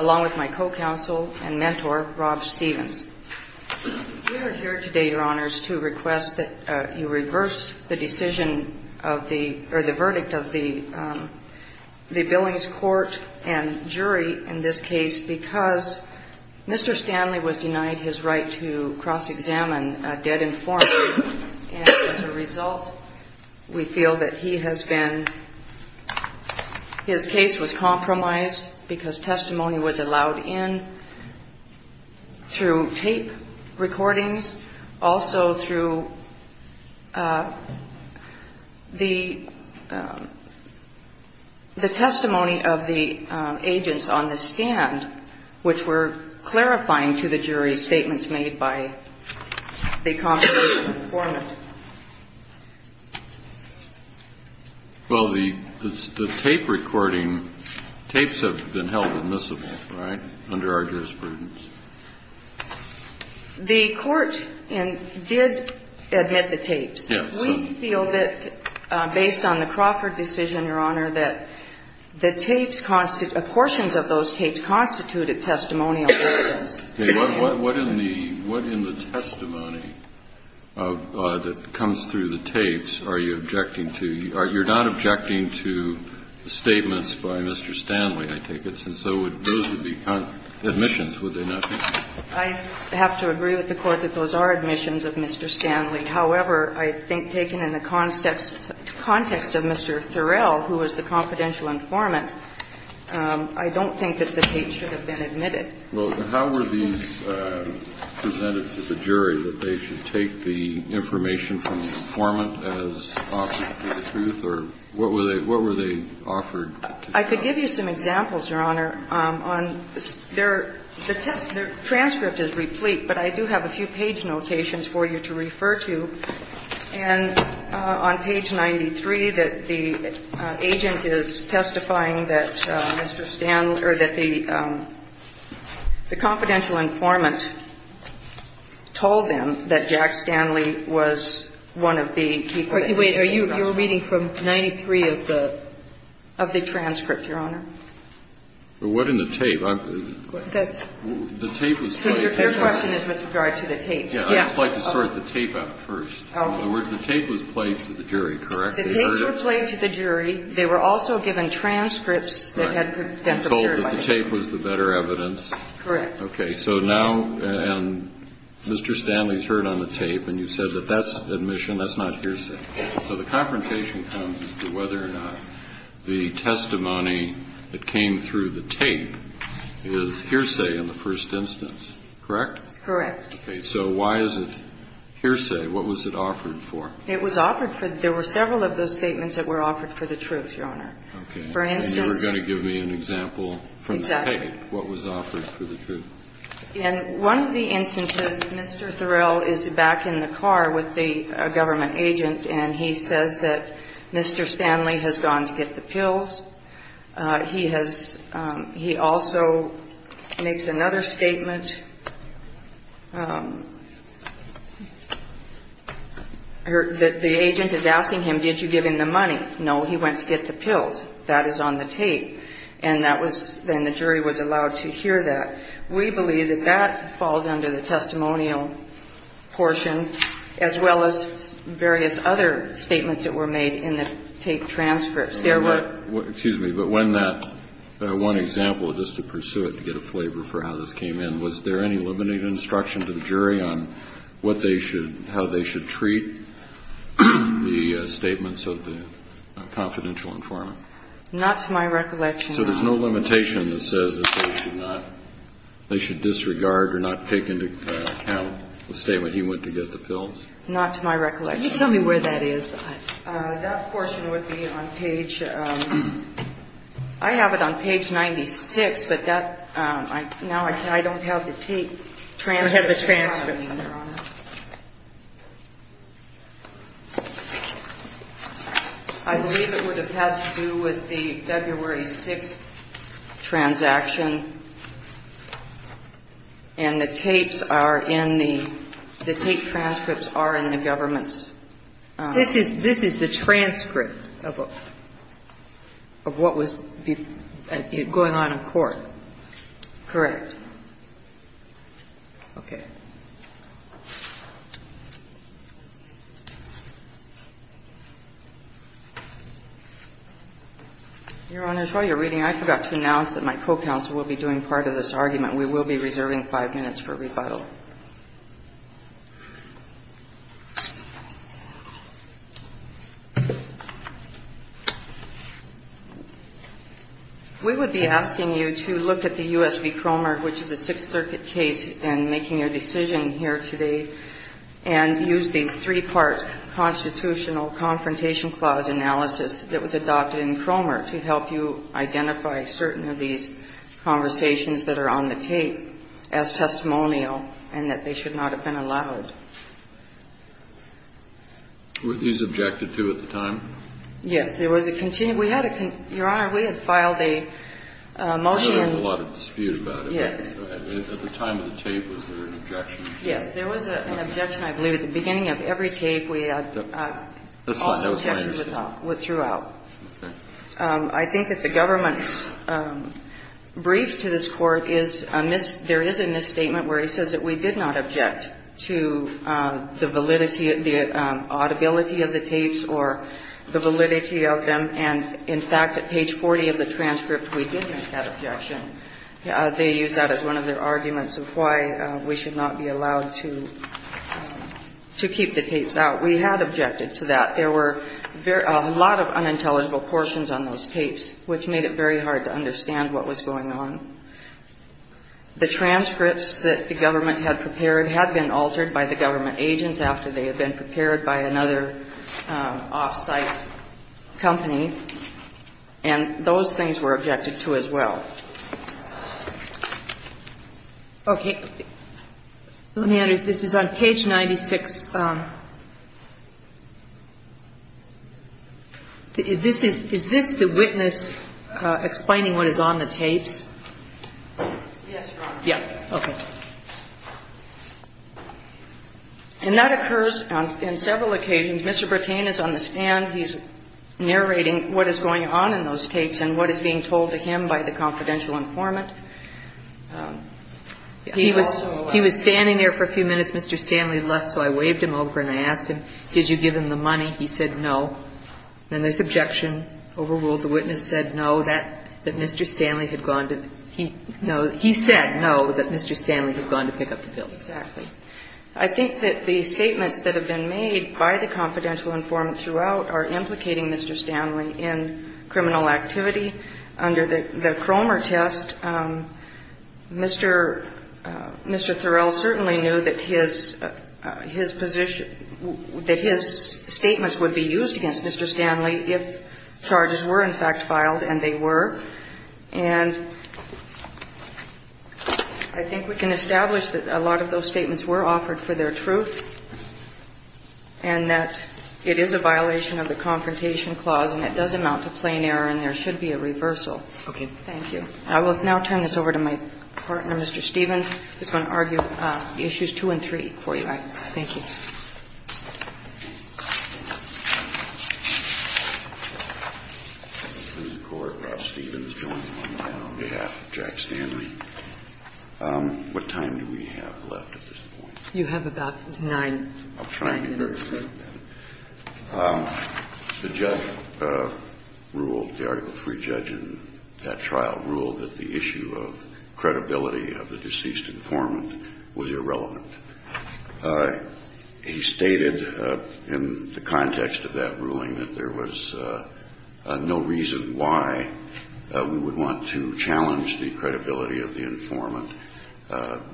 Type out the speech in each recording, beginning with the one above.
along with my co-counsel and mentor, Rob Stephens. We are here today, Your Honors, to request that you reverse the decision of the verdict of the Billings court and jury in this case because Mr. Stanley was denied his right to cross-examine a dead informant. And as a result, we feel that he has been his case was compromised because testimony was allowed in through tape recordings, also through the testimony of the jury, and we feel that he has been denied his right to cross-examine a dead informant. The questions of those tapes constitute a testimonial process. Kennedy. What in the testimony that comes through the tapes are you objecting to? You're not objecting to statements by Mr. Stanley, I take it, since those would be admissions, would they not be? I have to agree with the Court that those are admissions of Mr. Stanley. However, I think taken in the context of Mr. Thorell, who was the confidential informant, I don't think that the tape should have been admitted. Well, how were these presented to the jury, that they should take the information from the informant as offered to the truth, or what were they offered to the jury? I could give you some examples, Your Honor, on their transcript is replete, but I do have a few page notations for you to refer to. And on page 93, that the agent is testifying that Mr. Stanley or that the confidential informant told them that Jack Stanley was one of the people that he was talking about. Wait. Are you reading from 93 of the? Of the transcript, Your Honor. Well, what in the tape? That's the tape was played. Your question is with regard to the tapes. I'd like to sort the tape out first. In other words, the tape was played to the jury, correct? The tapes were played to the jury. They were also given transcripts that had been prepared by the jury. And told that the tape was the better evidence. Correct. Okay. So now Mr. Stanley's heard on the tape, and you said that that's admission, that's not hearsay. So the confrontation comes as to whether or not the testimony that came through the tape is hearsay in the first instance, correct? Correct. Okay. So why is it hearsay? What was it offered for? It was offered for the – there were several of those statements that were offered for the truth, Your Honor. Okay. For instance – And you were going to give me an example from the tape. Exactly. What was offered for the truth? In one of the instances, Mr. Thorell is back in the car with the government agent, and he says that Mr. Stanley has gone to get the pills. He has – he also makes another statement. The agent is asking him, did you give him the money? No, he went to get the pills. That is on the tape. And that was – then the jury was allowed to hear that. We believe that that falls under the testimonial portion, as well as various other statements that were made in the tape transcripts. There were – Excuse me, but when that – one example, just to pursue it, to get a flavor for how this came in, was there any limited instruction to the jury on what they should – how they should treat the statements of the confidential informant? Not to my recollection, no. So there's no limitation that says that they should not – they should disregard or not take into account the statement, he went to get the pills? Not to my recollection, no. Can you tell me where that is? That portion would be on page – I have it on page 96, but that – now I don't have the tape transcripts. We don't have the transcripts, Your Honor. I believe it would have had to do with the February 6th transaction, and the tapes are in the – the tape transcripts are in the government's – This is – this is the transcript of a – of what was going on in court. Correct. Okay. Your Honor, while you're reading, I forgot to announce that my co-counsel will be doing part of this argument. We will be reserving five minutes for rebuttal. We would be asking you to look at the U.S. v. Cromer, which is a Sixth Circuit case, and making your decision here today, and use the three-part constitutional Confrontation Clause analysis that was adopted in Cromer to help you identify certain of these conversations that are on the tape as testimonial and that they should not have been allowed. Were these objected to at the time? Yes. There was a – we had a – Your Honor, we had filed a motion in – I know there was a lot of dispute about it. Yes. At the time of the tape, was there an objection? Yes. There was an objection, I believe, at the beginning of every tape. We had – That's fine. I understand. Objections throughout. Okay. I think that the government's brief to this Court is a mis – there is a misstatement where he says that we did not object to the validity – the audibility of the tapes or the validity of them. And, in fact, at page 40 of the transcript, we did make that objection. They use that as one of their arguments of why we should not be allowed to keep the tapes out. We had objected to that. There were a lot of unintelligible portions on those tapes, which made it very hard to understand what was going on. The transcripts that the government had prepared had been altered by the government agents after they had been prepared by another off-site company, and those things were objected to as well. Okay. Let me address – this is on page 96. This is – is this the witness explaining what is on the tapes? Yes, Your Honor. Yeah. Okay. And that occurs on – on several occasions. Mr. Bertain is on the stand. He's narrating what is going on in those tapes and what is being told to him by the confidential informant. He was standing there for a few minutes. Mr. Stanley left, so I waved him over and I asked him, did you give him the money? He said no. And this objection overruled. The witness said no, that Mr. Stanley had gone to – he said no, that Mr. Stanley had gone to pick up the pills. Exactly. I think that the statements that have been made by the confidential informant throughout are implicating Mr. Stanley in criminal activity. Under the Cromer test, Mr. Thorell certainly knew that his position – that his statements would be used against Mr. Stanley if charges were in fact filed, and they were. And I think we can establish that a lot of those statements were offered for their truth and that it is a violation of the Confrontation Clause and it does amount to plain error and there should be a reversal. Okay. Thank you. I will now turn this over to my partner, Mr. Stevens, who's going to argue issues 2 and 3 for you. Thank you. Mr. Stevens, join me now on behalf of Jack Stanley. What time do we have left at this point? You have about 9 minutes. I'm trying to get very quick. The judge ruled, the Article III judge in that trial ruled that the issue of credibility of the deceased informant was irrelevant. He stated in the context of that ruling that there was no reason why we would want to challenge the credibility of the informant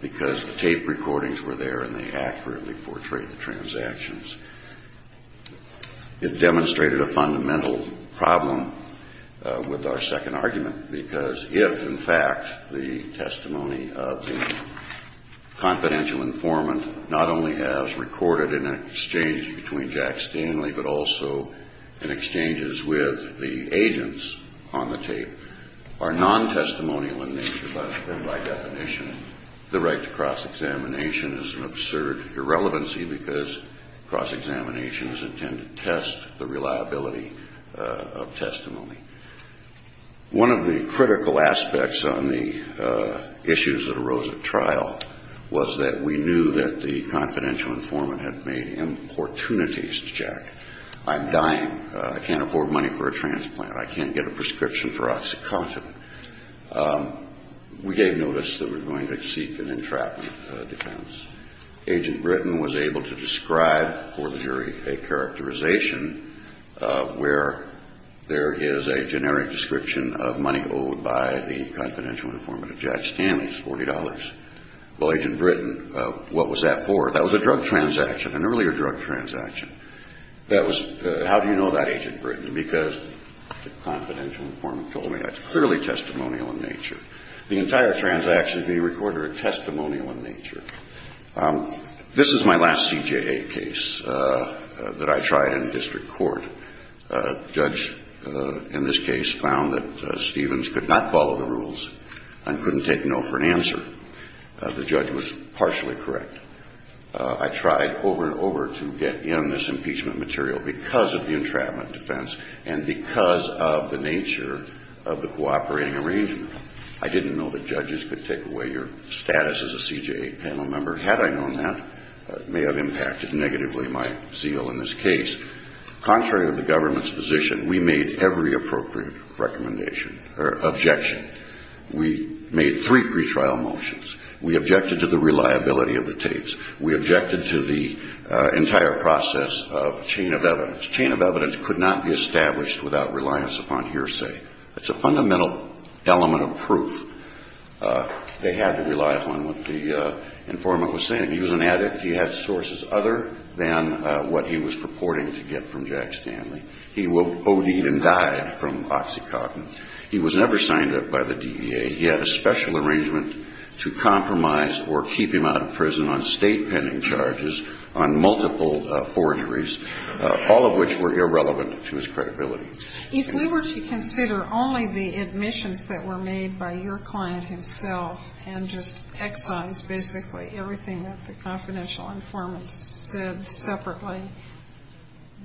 because the tape recordings were there and they accurately portrayed the transactions. It demonstrated a fundamental problem with our second argument because if, in fact, the testimony of the confidential informant not only as recorded in an exchange between Jack Stanley but also in exchanges with the agents on the tape are non-testimonial in nature and by definition, the right to cross-examination is an absurd irrelevancy because cross-examination is intended to test the reliability of testimony. One of the critical aspects on the issues that arose at trial was that we knew that the confidential informant had made importunities to Jack. I'm dying. I can't afford money for a transplant. I can't get a prescription for Oxycontin. We gave notice that we were going to seek an entrapment defense. Agent Britton was able to describe for the jury a characterization where there is a generic description of money owed by the confidential informant of Jack Stanley. It's $40. Well, Agent Britton, what was that for? That was a drug transaction, an earlier drug transaction. How do you know that, Agent Britton? Because the confidential informant told me that's clearly testimonial in nature. The entire transaction is being recorded as testimonial in nature. This is my last CJA case that I tried in district court. A judge in this case found that Stevens could not follow the rules and couldn't take no for an answer. The judge was partially correct. I tried over and over to get in this impeachment material because of the entrapment defense and because of the nature of the cooperating arrangement. I didn't know that judges could take away your status as a CJA panel member. Had I known that, it may have impacted negatively my zeal in this case. Contrary to the government's position, we made every appropriate recommendation or objection. We made three pretrial motions. We objected to the reliability of the tapes. We objected to the entire process of chain of evidence. The judge could not be established without reliance upon hearsay. It's a fundamental element of proof. They had to rely upon what the informant was saying. He was an addict. He had sources other than what he was purporting to get from Jack Stanley. He owed even died from OxyContin. He was never signed up by the DEA. He had a special arrangement to compromise or keep him out of prison on state pending charges on multiple forgeries, all of which were irrelevant to his credibility. If we were to consider only the admissions that were made by your client himself and just excise basically everything that the confidential informant said separately,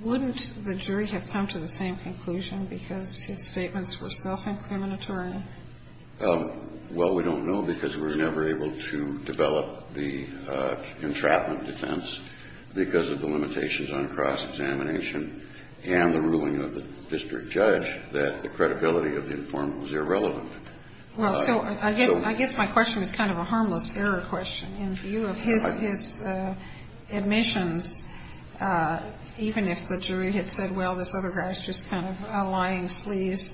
wouldn't the jury have come to the same conclusion because his statements were self-incriminatory? Well, we don't know because we were never able to develop the entrapment defense because of the limitations on cross-examination and the ruling of the district judge that the credibility of the informant was irrelevant. Well, so I guess my question is kind of a harmless error question in view of his admissions, even if the jury had said, well, this other guy is just kind of a lying sleaze,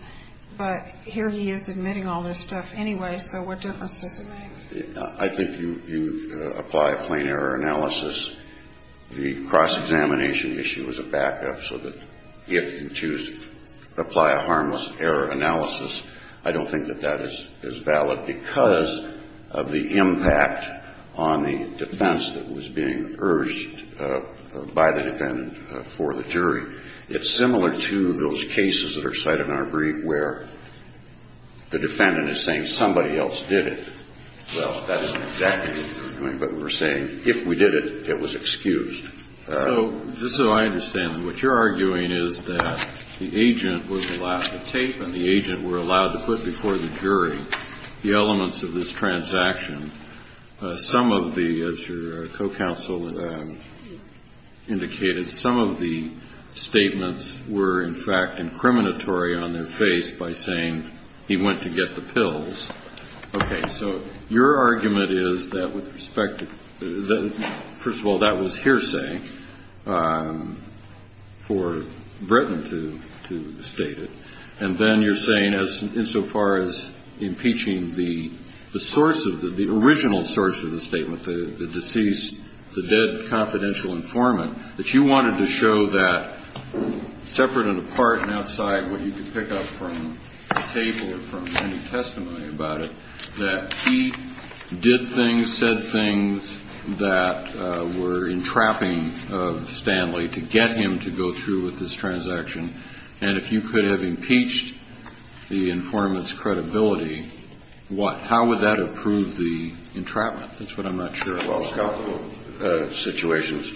but here he is admitting all this stuff anyway, so what difference does it make? I think you apply a plain error analysis. The cross-examination issue is a backup so that if you choose to apply a harmless error analysis, I don't think that that is valid because of the impact on the defense that was being urged by the defendant for the jury. It's similar to those cases that are cited in our brief where the defendant is saying somebody else did it, well, that isn't exactly what they're doing, but we're saying if we did it, it was excused. So just so I understand, what you're arguing is that the agent was allowed the tape and the agent were allowed to put before the jury the elements of this transaction. Some of the, as your co-counsel indicated, some of the statements were in fact incriminatory on their face by saying he went to get the pills. Okay. So your argument is that with respect to, first of all, that was hearsay for Bretton to state it, and then you're saying insofar as impeaching the source of the, the original source of the statement, the deceased, the dead confidential informant, that you wanted to show that separate and apart and outside what you could pick up from the tape or from any testimony about it that he did things, said things that were entrapping Stanley to get him to go through with this transaction. And if you could have impeached the informant's credibility, what, how would that have proved the entrapment? That's what I'm not sure. Well, a couple of situations.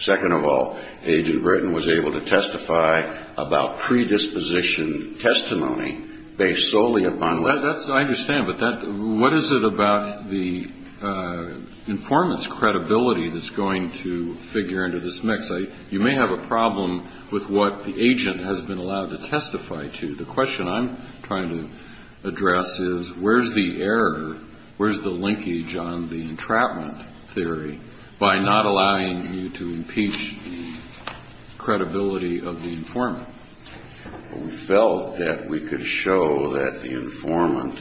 Second of all, Agent Bretton was able to testify about predisposition testimony based solely upon. I understand. But what is it about the informant's credibility that's going to figure into this mix? You may have a problem with what the agent has been allowed to testify to. The question I'm trying to address is where's the error, where's the linkage on the entrapment theory by not allowing you to impeach the credibility of the informant? We felt that we could show that the informant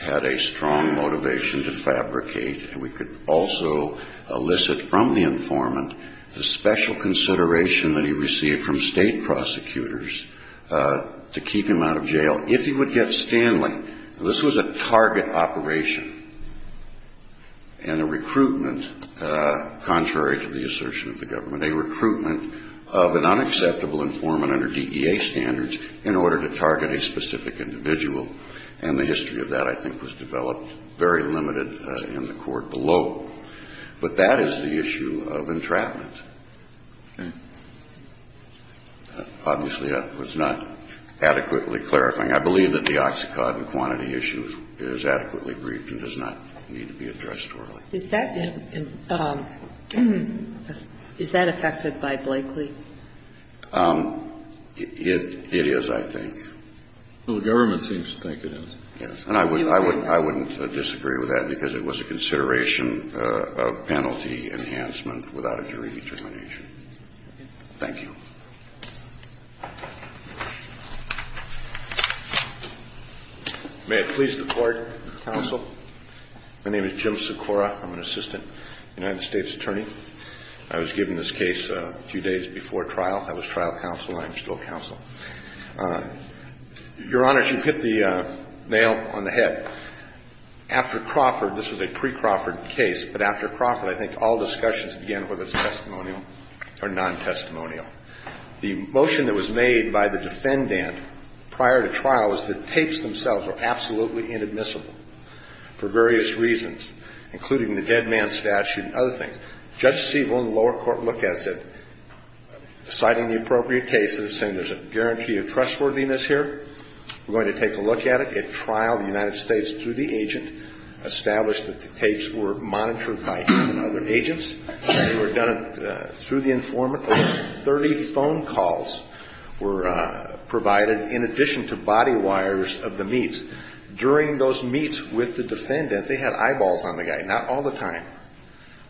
had a strong motivation to fabricate, and we could also elicit from the informant the special consideration that he received from state prosecutors to keep him out of jail. So if he would get Stanley, this was a target operation and a recruitment, contrary to the assertion of the government, a recruitment of an unacceptable informant under DEA standards in order to target a specific individual. And the history of that, I think, was developed very limited in the court below. But that is the issue of entrapment. Obviously, that was not adequately clarifying. I believe that the oxycodone quantity issue is adequately briefed and does not need to be addressed orally. Is that affected by Blakely? It is, I think. The government seems to think it is. Yes. And I wouldn't disagree with that because it was a consideration of penalty enhancement without a jury determination. Thank you. May it please the Court, counsel. My name is Jim Sikora. I'm an assistant United States attorney. I was given this case a few days before trial. I was trial counsel and I'm still counsel. Your Honor, you hit the nail on the head. After Crawford, this was a pre-Crawford case, but after Crawford, I think all discussions began whether it's testimonial or non-testimonial. The motion that was made by the defendant prior to trial was that the tapes themselves were absolutely inadmissible for various reasons, including the dead man statute and other things. Judge Siebel in the lower court looked at it, citing the appropriate cases and said there's a guarantee of trustworthiness here. We're going to take a look at it. At trial, the United States, through the agent, established that the tapes were monitored by him and other agents. They were done through the informant. Over 30 phone calls were provided in addition to body wires of the meets. During those meets with the defendant, they had eyeballs on the guy, not all the time.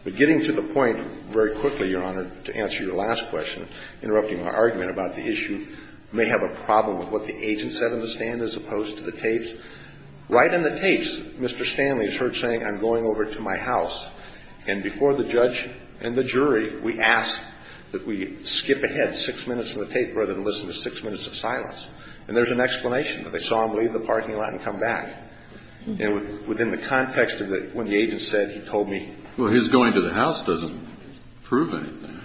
But getting to the point very quickly, Your Honor, to answer your last question, interrupting my argument about the issue, you may have a problem with what the agent said in the stand as opposed to the tapes. Right in the tapes, Mr. Stanley is heard saying, I'm going over to my house. And before the judge and the jury, we ask that we skip ahead six minutes of the tape rather than listen to six minutes of silence. And there's an explanation that they saw him leave the parking lot and come back. And within the context of when the agent said, he told me. Well, his going to the house doesn't prove anything.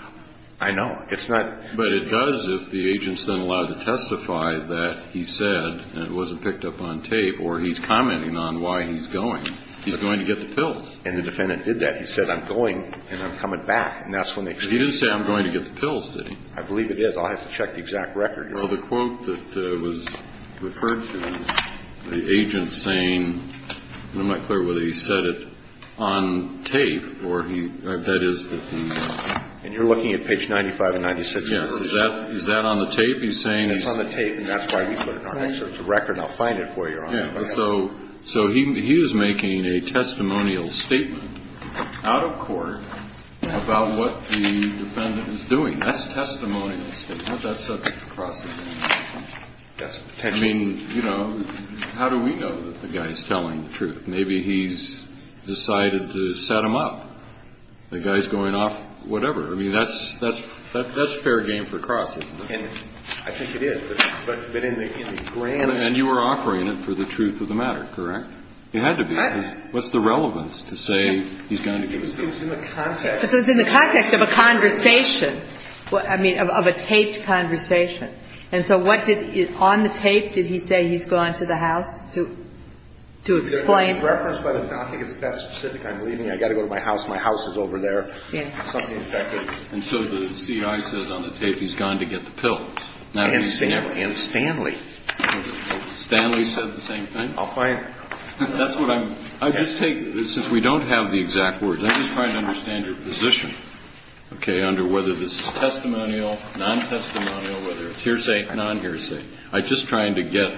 I know. It's not. But it does if the agent's then allowed to testify that he said, and it wasn't picked up on tape, or he's commenting on why he's going. He's going to get the pills. And the defendant did that. He said, I'm going, and I'm coming back. And that's when they. He didn't say, I'm going to get the pills, did he? I believe it is. I'll have to check the exact record. Well, the quote that was referred to is the agent saying, I'm not clear whether he said it on tape or he, that is that he. And you're looking at page 95 and 96. Yes. Is that on the tape? He's saying. It's on the tape. And that's why we put it on there. So it's a record. I'll find it for you. Yeah. So he was making a testimonial statement out of court about what the defendant was doing. That's a testimonial statement. That's subject to processing. That's a potential. I mean, you know, how do we know that the guy's telling the truth? Maybe he's decided to set him up. The guy's going off. Whatever. I mean, that's fair game for Cross, isn't it? I think it is. But in the grand scheme. And you were offering it for the truth of the matter, correct? It had to be. What's the relevance to say he's going to get the pills? It was in the context. It was in the context of a conversation. I mean, of a taped conversation. And so what did, on the tape, did he say he's going to the house to explain? It was referenced by the house. I think it's that specific. I'm leaving. I've got to go to my house. My house is over there. And so the C.I. says on the tape he's gone to get the pills. And Stanley. Stanley said the same thing. That's what I'm. I just take, since we don't have the exact words, I'm just trying to understand your position, okay, under whether this is testimonial, non-testimonial, whether it's hearsay, non-hearsay. I'm just trying to get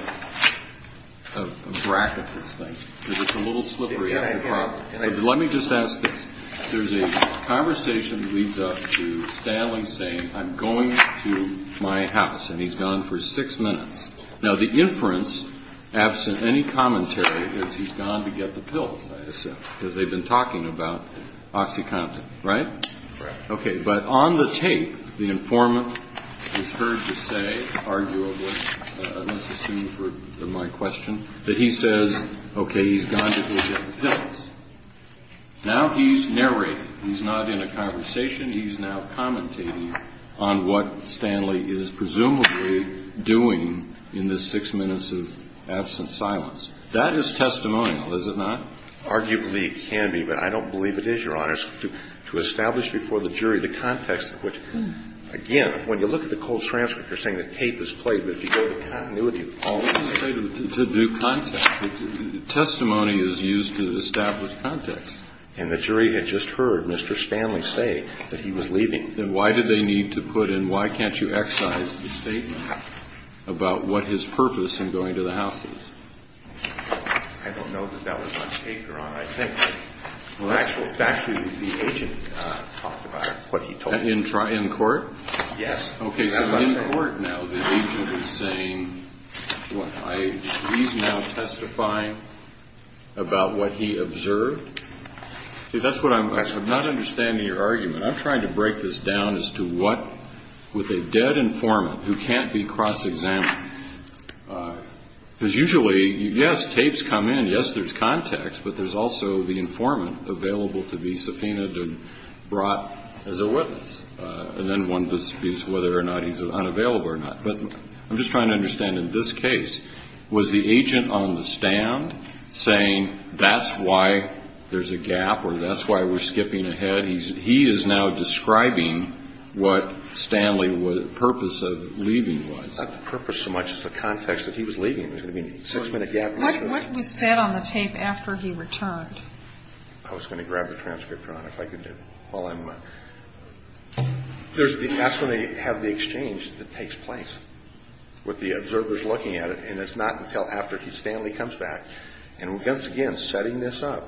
a bracket for this thing because it's a little slippery on your problem. Let me just ask this. There's a conversation that leads up to Stanley saying I'm going to my house, and he's gone for six minutes. Now, the inference, absent any commentary, is he's gone to get the pills, I assume, because they've been talking about OxyContin, right? Right. Okay. But on the tape, the informant is heard to say, arguably, let's assume for my question, that he says, okay, he's gone to get the pills. Now he's narrating. He's not in a conversation. He's now commentating on what Stanley is presumably doing in this six minutes of absent silence. That is testimonial, is it not? Arguably it can be, but I don't believe it is, Your Honor. To establish before the jury the context of which, again, when you look at the cold transcript, you're saying the tape is played, but if you go to continuity, all of it is played. To do context. Testimony is used to establish context. And the jury had just heard Mr. Stanley say that he was leaving. Then why did they need to put in, why can't you excise the statement about what his purpose in going to the house is? I don't know that that was on tape, Your Honor. I think that actually the agent talked about what he told me. In court? Yes. Okay, so in court now the agent is saying, what, he's now testifying about what he observed? See, that's what I'm asking. I'm not understanding your argument. I'm trying to break this down as to what, with a dead informant who can't be cross-examined, because usually, yes, tapes come in, yes, there's context, but there's also the informant available to be subpoenaed and brought as a witness. And then one disputes whether or not he's unavailable or not. But I'm just trying to understand, in this case, was the agent on the stand saying, that's why there's a gap or that's why we're skipping ahead? He is now describing what Stanley's purpose of leaving was. Not the purpose so much as the context that he was leaving. I mean, six-minute gap. What was said on the tape after he returned? I was going to grab the transcriptor on it if I could do it while I'm. That's when they have the exchange that takes place with the observers looking at it, and it's not until after Stanley comes back. And, once again, setting this up,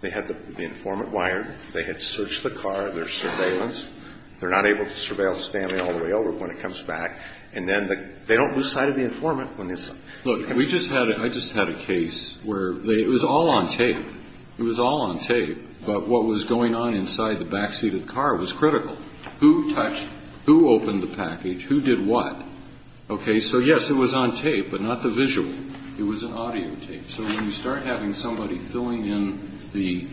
they had the informant wired, they had searched the car, there's surveillance. They're not able to surveil Stanley all the way over when he comes back. And then they don't lose sight of the informant when this. Look, I just had a case where it was all on tape. It was all on tape. But what was going on inside the backseat of the car was critical. Who touched, who opened the package, who did what? Okay. So, yes, it was on tape, but not the visual. It was an audio tape. So when you start having somebody filling in the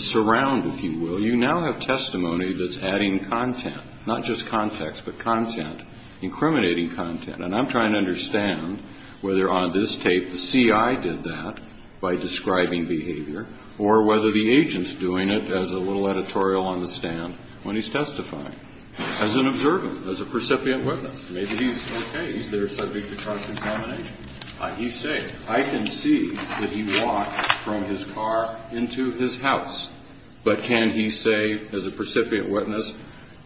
surround, if you will, you now have testimony that's adding content, not just context, but content, incriminating content. And I'm trying to understand whether on this tape the CI did that by describing behavior or whether the agent's doing it as a little editorial on the stand when he's testifying. As an observer, as a precipitant witness, maybe he's okay, he's there subject to car contamination. He's safe. I can see that he walked from his car into his house. But can he say, as a precipitant witness,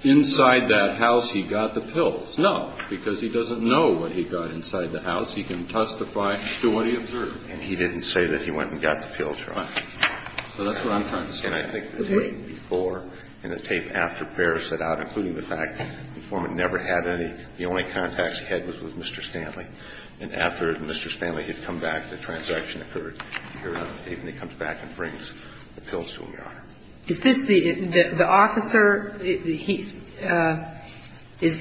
inside that house he got the pills? No. Because he doesn't know what he got inside the house. He can testify to what he observed. And he didn't say that he went and got the pills, Your Honor. So that's what I'm trying to say. Okay. And I think the tape before and the tape after Paris set out, including the fact the informant never had any, the only contacts he had was with Mr. Stanley. And after Mr. Stanley had come back, the transaction occurred here on the tape, and he comes back and brings the pills to him, Your Honor. Is this the officer, he's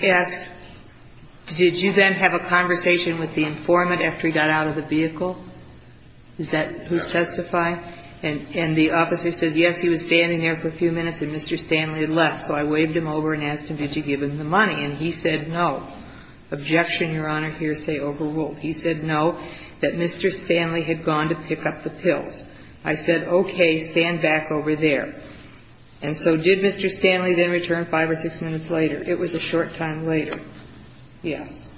asked, did you then have a conversation with the informant after he got out of the vehicle? Is that who's testifying? And the officer says, yes, he was standing there for a few minutes and Mr. Stanley had left. So I waved him over and asked him, did you give him the money? And he said, no. Objection, Your Honor. Hearsay overruled. He said, no, that Mr. Stanley had gone to pick up the pills. I said, okay, stand back over there. And so did Mr. Stanley then return five or six minutes later? It was a short time later. Yes.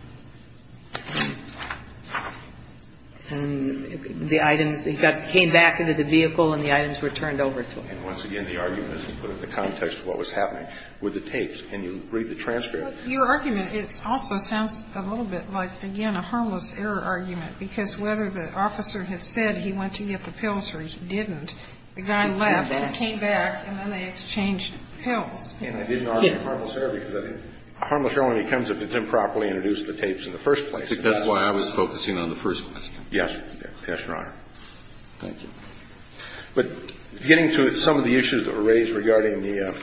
And the items, he came back into the vehicle and the items were turned over to him. And once again, the argument is to put it in the context of what was happening with the tapes. And you read the transcript. Your argument, it also sounds a little bit like, again, a harmless error argument, because whether the officer had said he went to get the pills or he didn't, the guy left, he came back, and then they exchanged pills. And I didn't argue a harmless error because a harmless error only comes if it's improperly introduced to the tapes in the first place. That's why I was focusing on the first place. Yes. Yes, Your Honor. Thank you. But getting to some of the issues that were raised regarding the ‑‑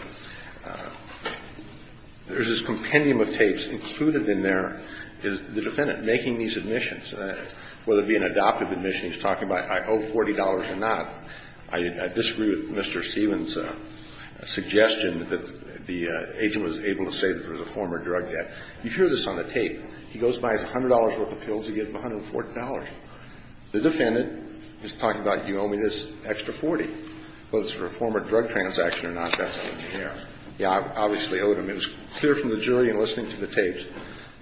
there's this compendium of tapes. Included in there is the defendant making these admissions. Whether it be an adoptive admission, he's talking about, I owe $40 or not. I disagree with Mr. Stevens' suggestion that the agent was able to say that there was a former drug debt. You hear this on the tape. He goes by his $100 worth of pills. He gives him $140. The defendant is talking about, you owe me this extra $40. Whether it's for a former drug transaction or not, that's what you hear. He obviously owed him. It was clear from the jury in listening to the tapes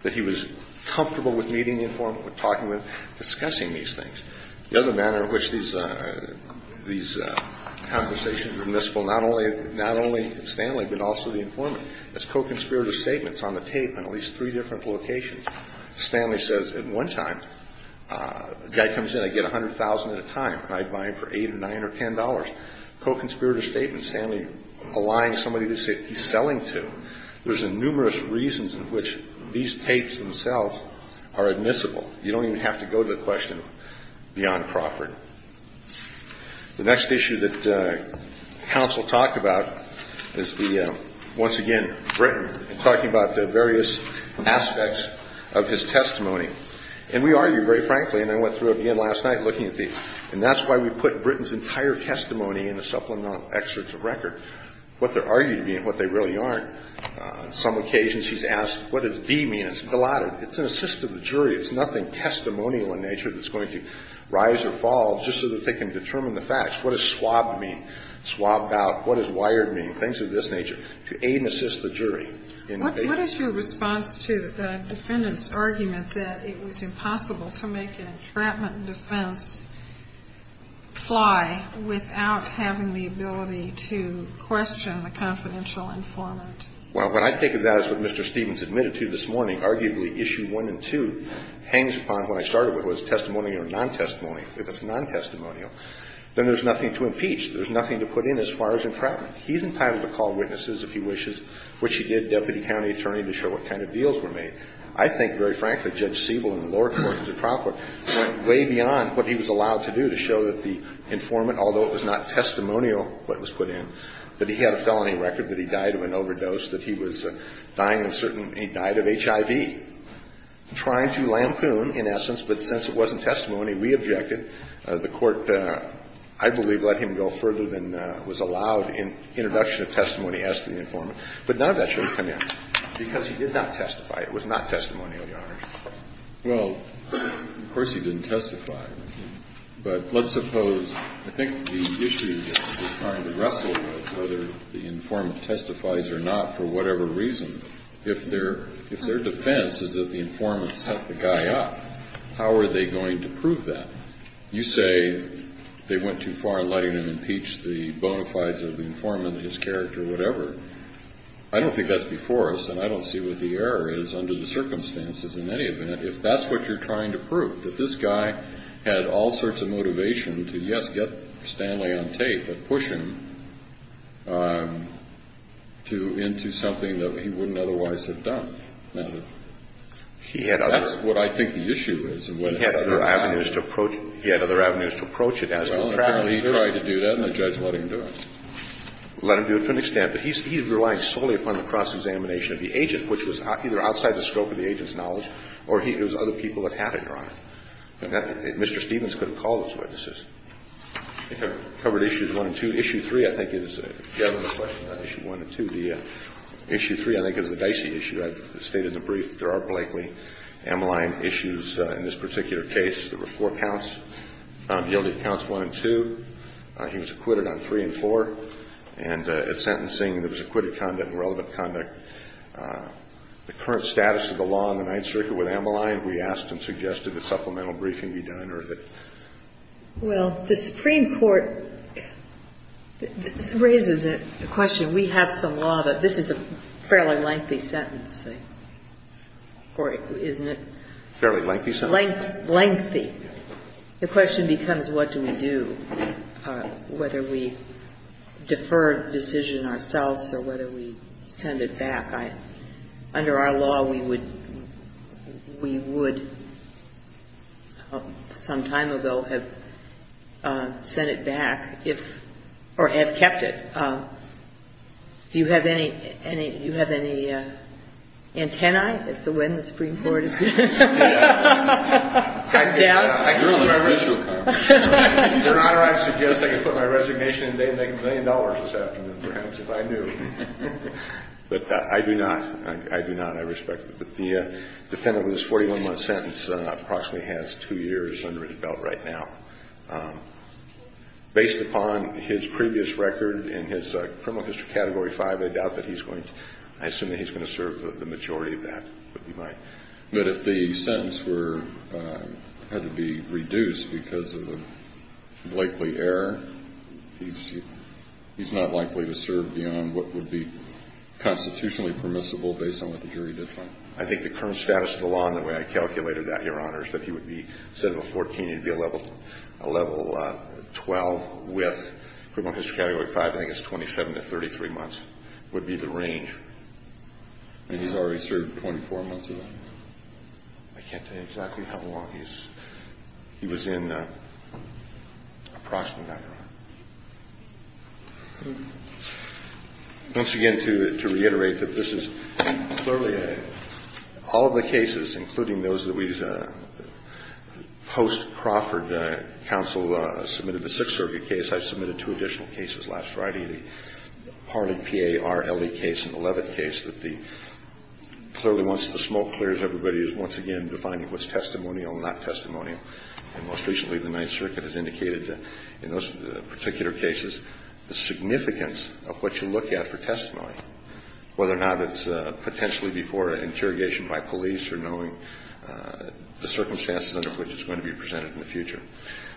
that he was comfortable with meeting the informant, with talking to him, discussing these things. The other manner in which these conversations are missful, not only Stanley, but also the informant, is co‑conspirator statements on the tape in at least three different locations. Stanley says at one time, the guy comes in, I get $100,000 at a time. I buy him for $8 or $9 or $10. Co‑conspirator statements, Stanley allying somebody that he's selling to. There's numerous reasons in which these tapes themselves are admissible. You don't even have to go to the question beyond Crawford. The next issue that counsel talked about is the, once again, Britton talking about the various aspects of his testimony. And we argue, very frankly, and I went through it again last night looking at the ‑‑ and that's why we put Britton's entire testimony in the supplemental excerpts of record. What they're arguing and what they really aren't. On some occasions he's asked, what does D mean? It's an assist of the jury. It's nothing testimonial in nature that's going to rise or fall just so that they can determine the facts. What does swabbed mean? Swabbed out. What does wired mean? Things of this nature. To aid and assist the jury. What is your response to the defendant's argument that it was impossible to make the entrapment defense fly without having the ability to question the confidential informant? Well, when I think of that as what Mr. Stevens admitted to this morning, arguably issue one and two hangs upon what I started with was testimonial or non‑testimonial. If it's non‑testimonial, then there's nothing to impeach. There's nothing to put in as far as entrapment. He's entitled to call witnesses, if he wishes, which he did, deputy county attorney, to show what kind of deals were made. I think, very frankly, Judge Siebel in the lower court in the trial court went way beyond what he was allowed to do to show that the informant, although it was not testimonial what was put in, that he had a felony record that he died of an overdose, that he was dying of certain ‑‑ he died of HIV. Trying to lampoon, in essence, but since it wasn't testimony, we objected. The court, I believe, let him go further than was allowed in introduction of testimony as to the informant. But none of that should have come in because he did not testify. It was not testimonial, Your Honor. Well, of course he didn't testify. But let's suppose ‑‑ I think the issue that we're trying to wrestle with, whether the informant testifies or not for whatever reason, if their defense is that the informant set the guy up, how are they going to prove that? You say they went too far in letting him impeach the bona fides of the informant, his character, whatever. I don't think that's before us and I don't see what the error is under the circumstances in any event. If that's what you're trying to prove, that this guy had all sorts of motivation to, yes, get Stanley on tape, but push him into something that he wouldn't otherwise have done. Now, that's what I think the issue is. He had other avenues to approach it. Well, apparently he tried to do that and the judge let him do it. Let him do it to an extent. But he's relying solely upon the cross-examination of the agent, which was either outside the scope of the agent's knowledge or it was other people that had it, Your Honor. Mr. Stevens could have called those witnesses. I think I've covered issues one and two. Issue three, I think, is a government question, issue one and two. The issue three, I think, is the Dicey issue. I've stated in the brief that there are Blakely M line issues in this particular case. There were four counts. He only counts one and two. He was acquitted on three and four. And at sentencing, there was acquitted conduct and relevant conduct. The current status of the law on the Ninth Circuit with Amalai, we asked and suggested that supplemental briefing be done or that. Well, the Supreme Court raises a question. We have some law that this is a fairly lengthy sentence. Or isn't it? Fairly lengthy sentence. Lengthy. The question becomes what do we do? Whether we defer a decision ourselves or whether we send it back. Under our law, we would some time ago have sent it back or have kept it. Do you have any antennae as to when the Supreme Court is going to be down? I do not. I do not. I respect that. But the defendant with his 41-month sentence approximately has two years under his belt right now. Based upon his previous record in his criminal history category 5, I doubt that he's going to, I assume that he's going to serve the majority of that, but he might. I would defer it. I would defer it. I think the current status of the law and the way I calculated that, Your Honor, is that he would be, instead of a 14, he'd be a level 12 with criminal history category 5, I think it's 27 to 33 months, would be the range. I mean, he's already served 24 months of that. I can't tell you exactly how long he's serving. I don't know. He was in approximately, Your Honor. Once again, to reiterate that this is clearly a, all of the cases, including those that we've, post-Crawford, counsel submitted the Sixth Circuit case. I submitted two additional cases last Friday, the Harlan P.A.R. L.E. case and the Levitt case, that the, clearly once the smoke clears, everybody is once again defining what's testimonial and not testimonial. And most recently, the Ninth Circuit has indicated that in those particular cases, the significance of what you look at for testimony, whether or not it's potentially before an interrogation by police or knowing the circumstances under which it's going to be presented in the future.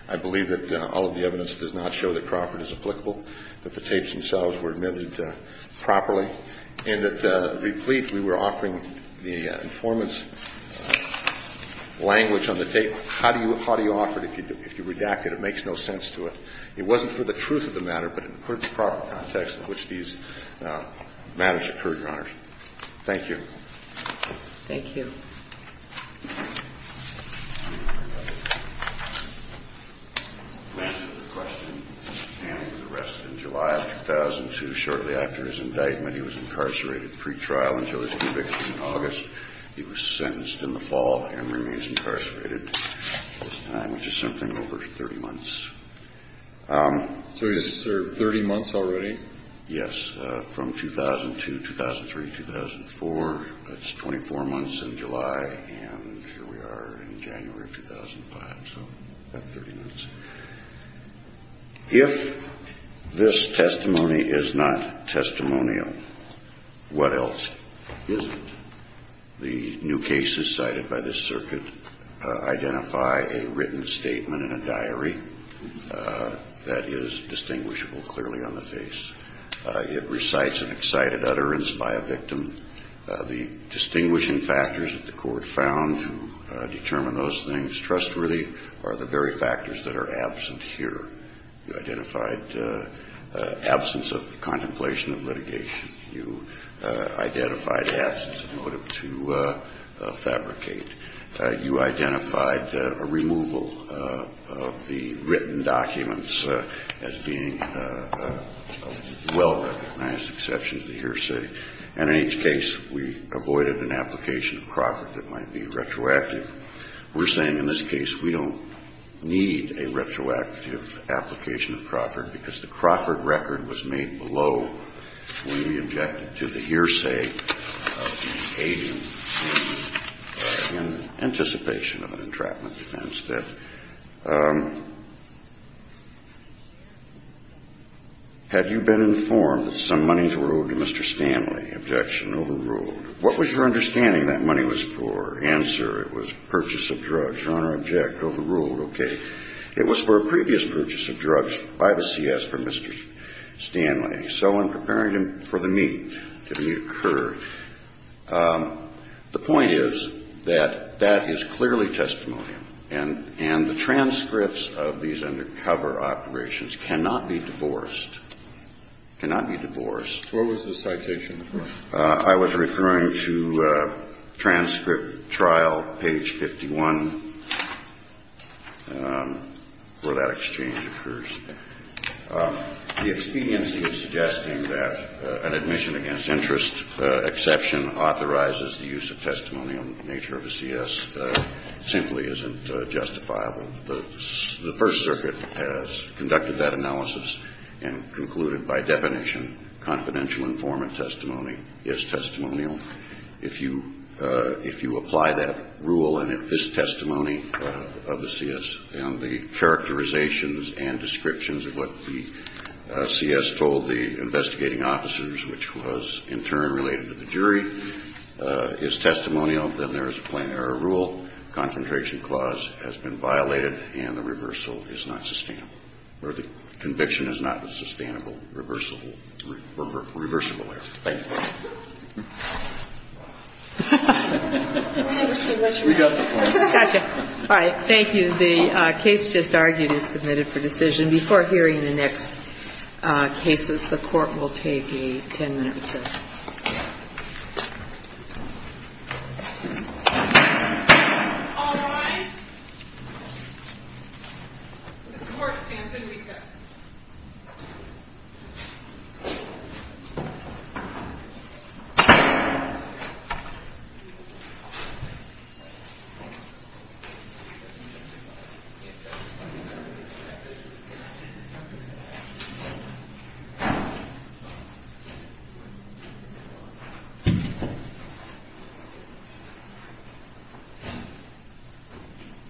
I believe that all of the evidence does not show that Crawford is applicable, that the tapes themselves were admitted properly, and that replete, we were offering the informant's language on the tape. How do you offer it if you redact it? It makes no sense to it. It wasn't for the truth of the matter, but it occurred in the proper context in which these matters occurred, Your Honor. Thank you. Thank you. We'll answer the question and the rest in July of 2002. Shortly after his indictment, he was incarcerated pretrial until his conviction in August. He was sentenced in the fall and remains incarcerated at this time, which is something over 30 months. So he's served 30 months already? Yes. That's from 2002, 2003, 2004. That's 24 months in July, and here we are in January of 2005, so about 30 months. If this testimony is not testimonial, what else is it? The new cases cited by this circuit identify a written statement in a diary that is distinguishable clearly on the face. It recites an excited utterance by a victim. The distinguishing factors that the court found to determine those things trustworthily are the very factors that are absent here. You identified absence of contemplation of litigation. You identified absence of motive to fabricate. You identified a removal of the written documents as being a well-recognized exception to the hearsay, and in each case we avoided an application of Crawford that might be retroactive. We're saying in this case we don't need a retroactive application of Crawford because the Crawford record was made below when we objected to the hearsay of the So we're saying that there was a contradiction in anticipation of an entrapment defense, that had you been informed that some money was owed to Mr. Stanley, objection overruled. What was your understanding that money was for? Answer, it was purchase of drugs. Honor, object, overruled. Okay. It was for a previous purchase of drugs by the CS for Mr. Stanley. So in preparing for the meet, the meet occurred, the point is that that is clearly testimony, and the transcripts of these undercover operations cannot be divorced, cannot be divorced. What was the citation? I was referring to transcript trial, page 51, where that exchange occurs. The expediency of suggesting that an admission against interest exception authorizes the use of testimony on the nature of a CS simply isn't justifiable. The First Circuit has conducted that analysis and concluded by definition confidential informant testimony is testimonial. If you apply that rule and if this testimony of the CS and the characterizations and descriptions of what the CS told the investigating officers, which was in turn related to the jury, is testimonial, then there is a plain error rule. Confrontation clause has been violated and the reversal is not sustainable or the conviction is not a sustainable, reversible error. Thank you. We got the point. All right. Thank you. The case just argued is submitted for decision. Before hearing the next cases, the Court will take a ten-minute recess. All rise. This court stands in recess. Thank you.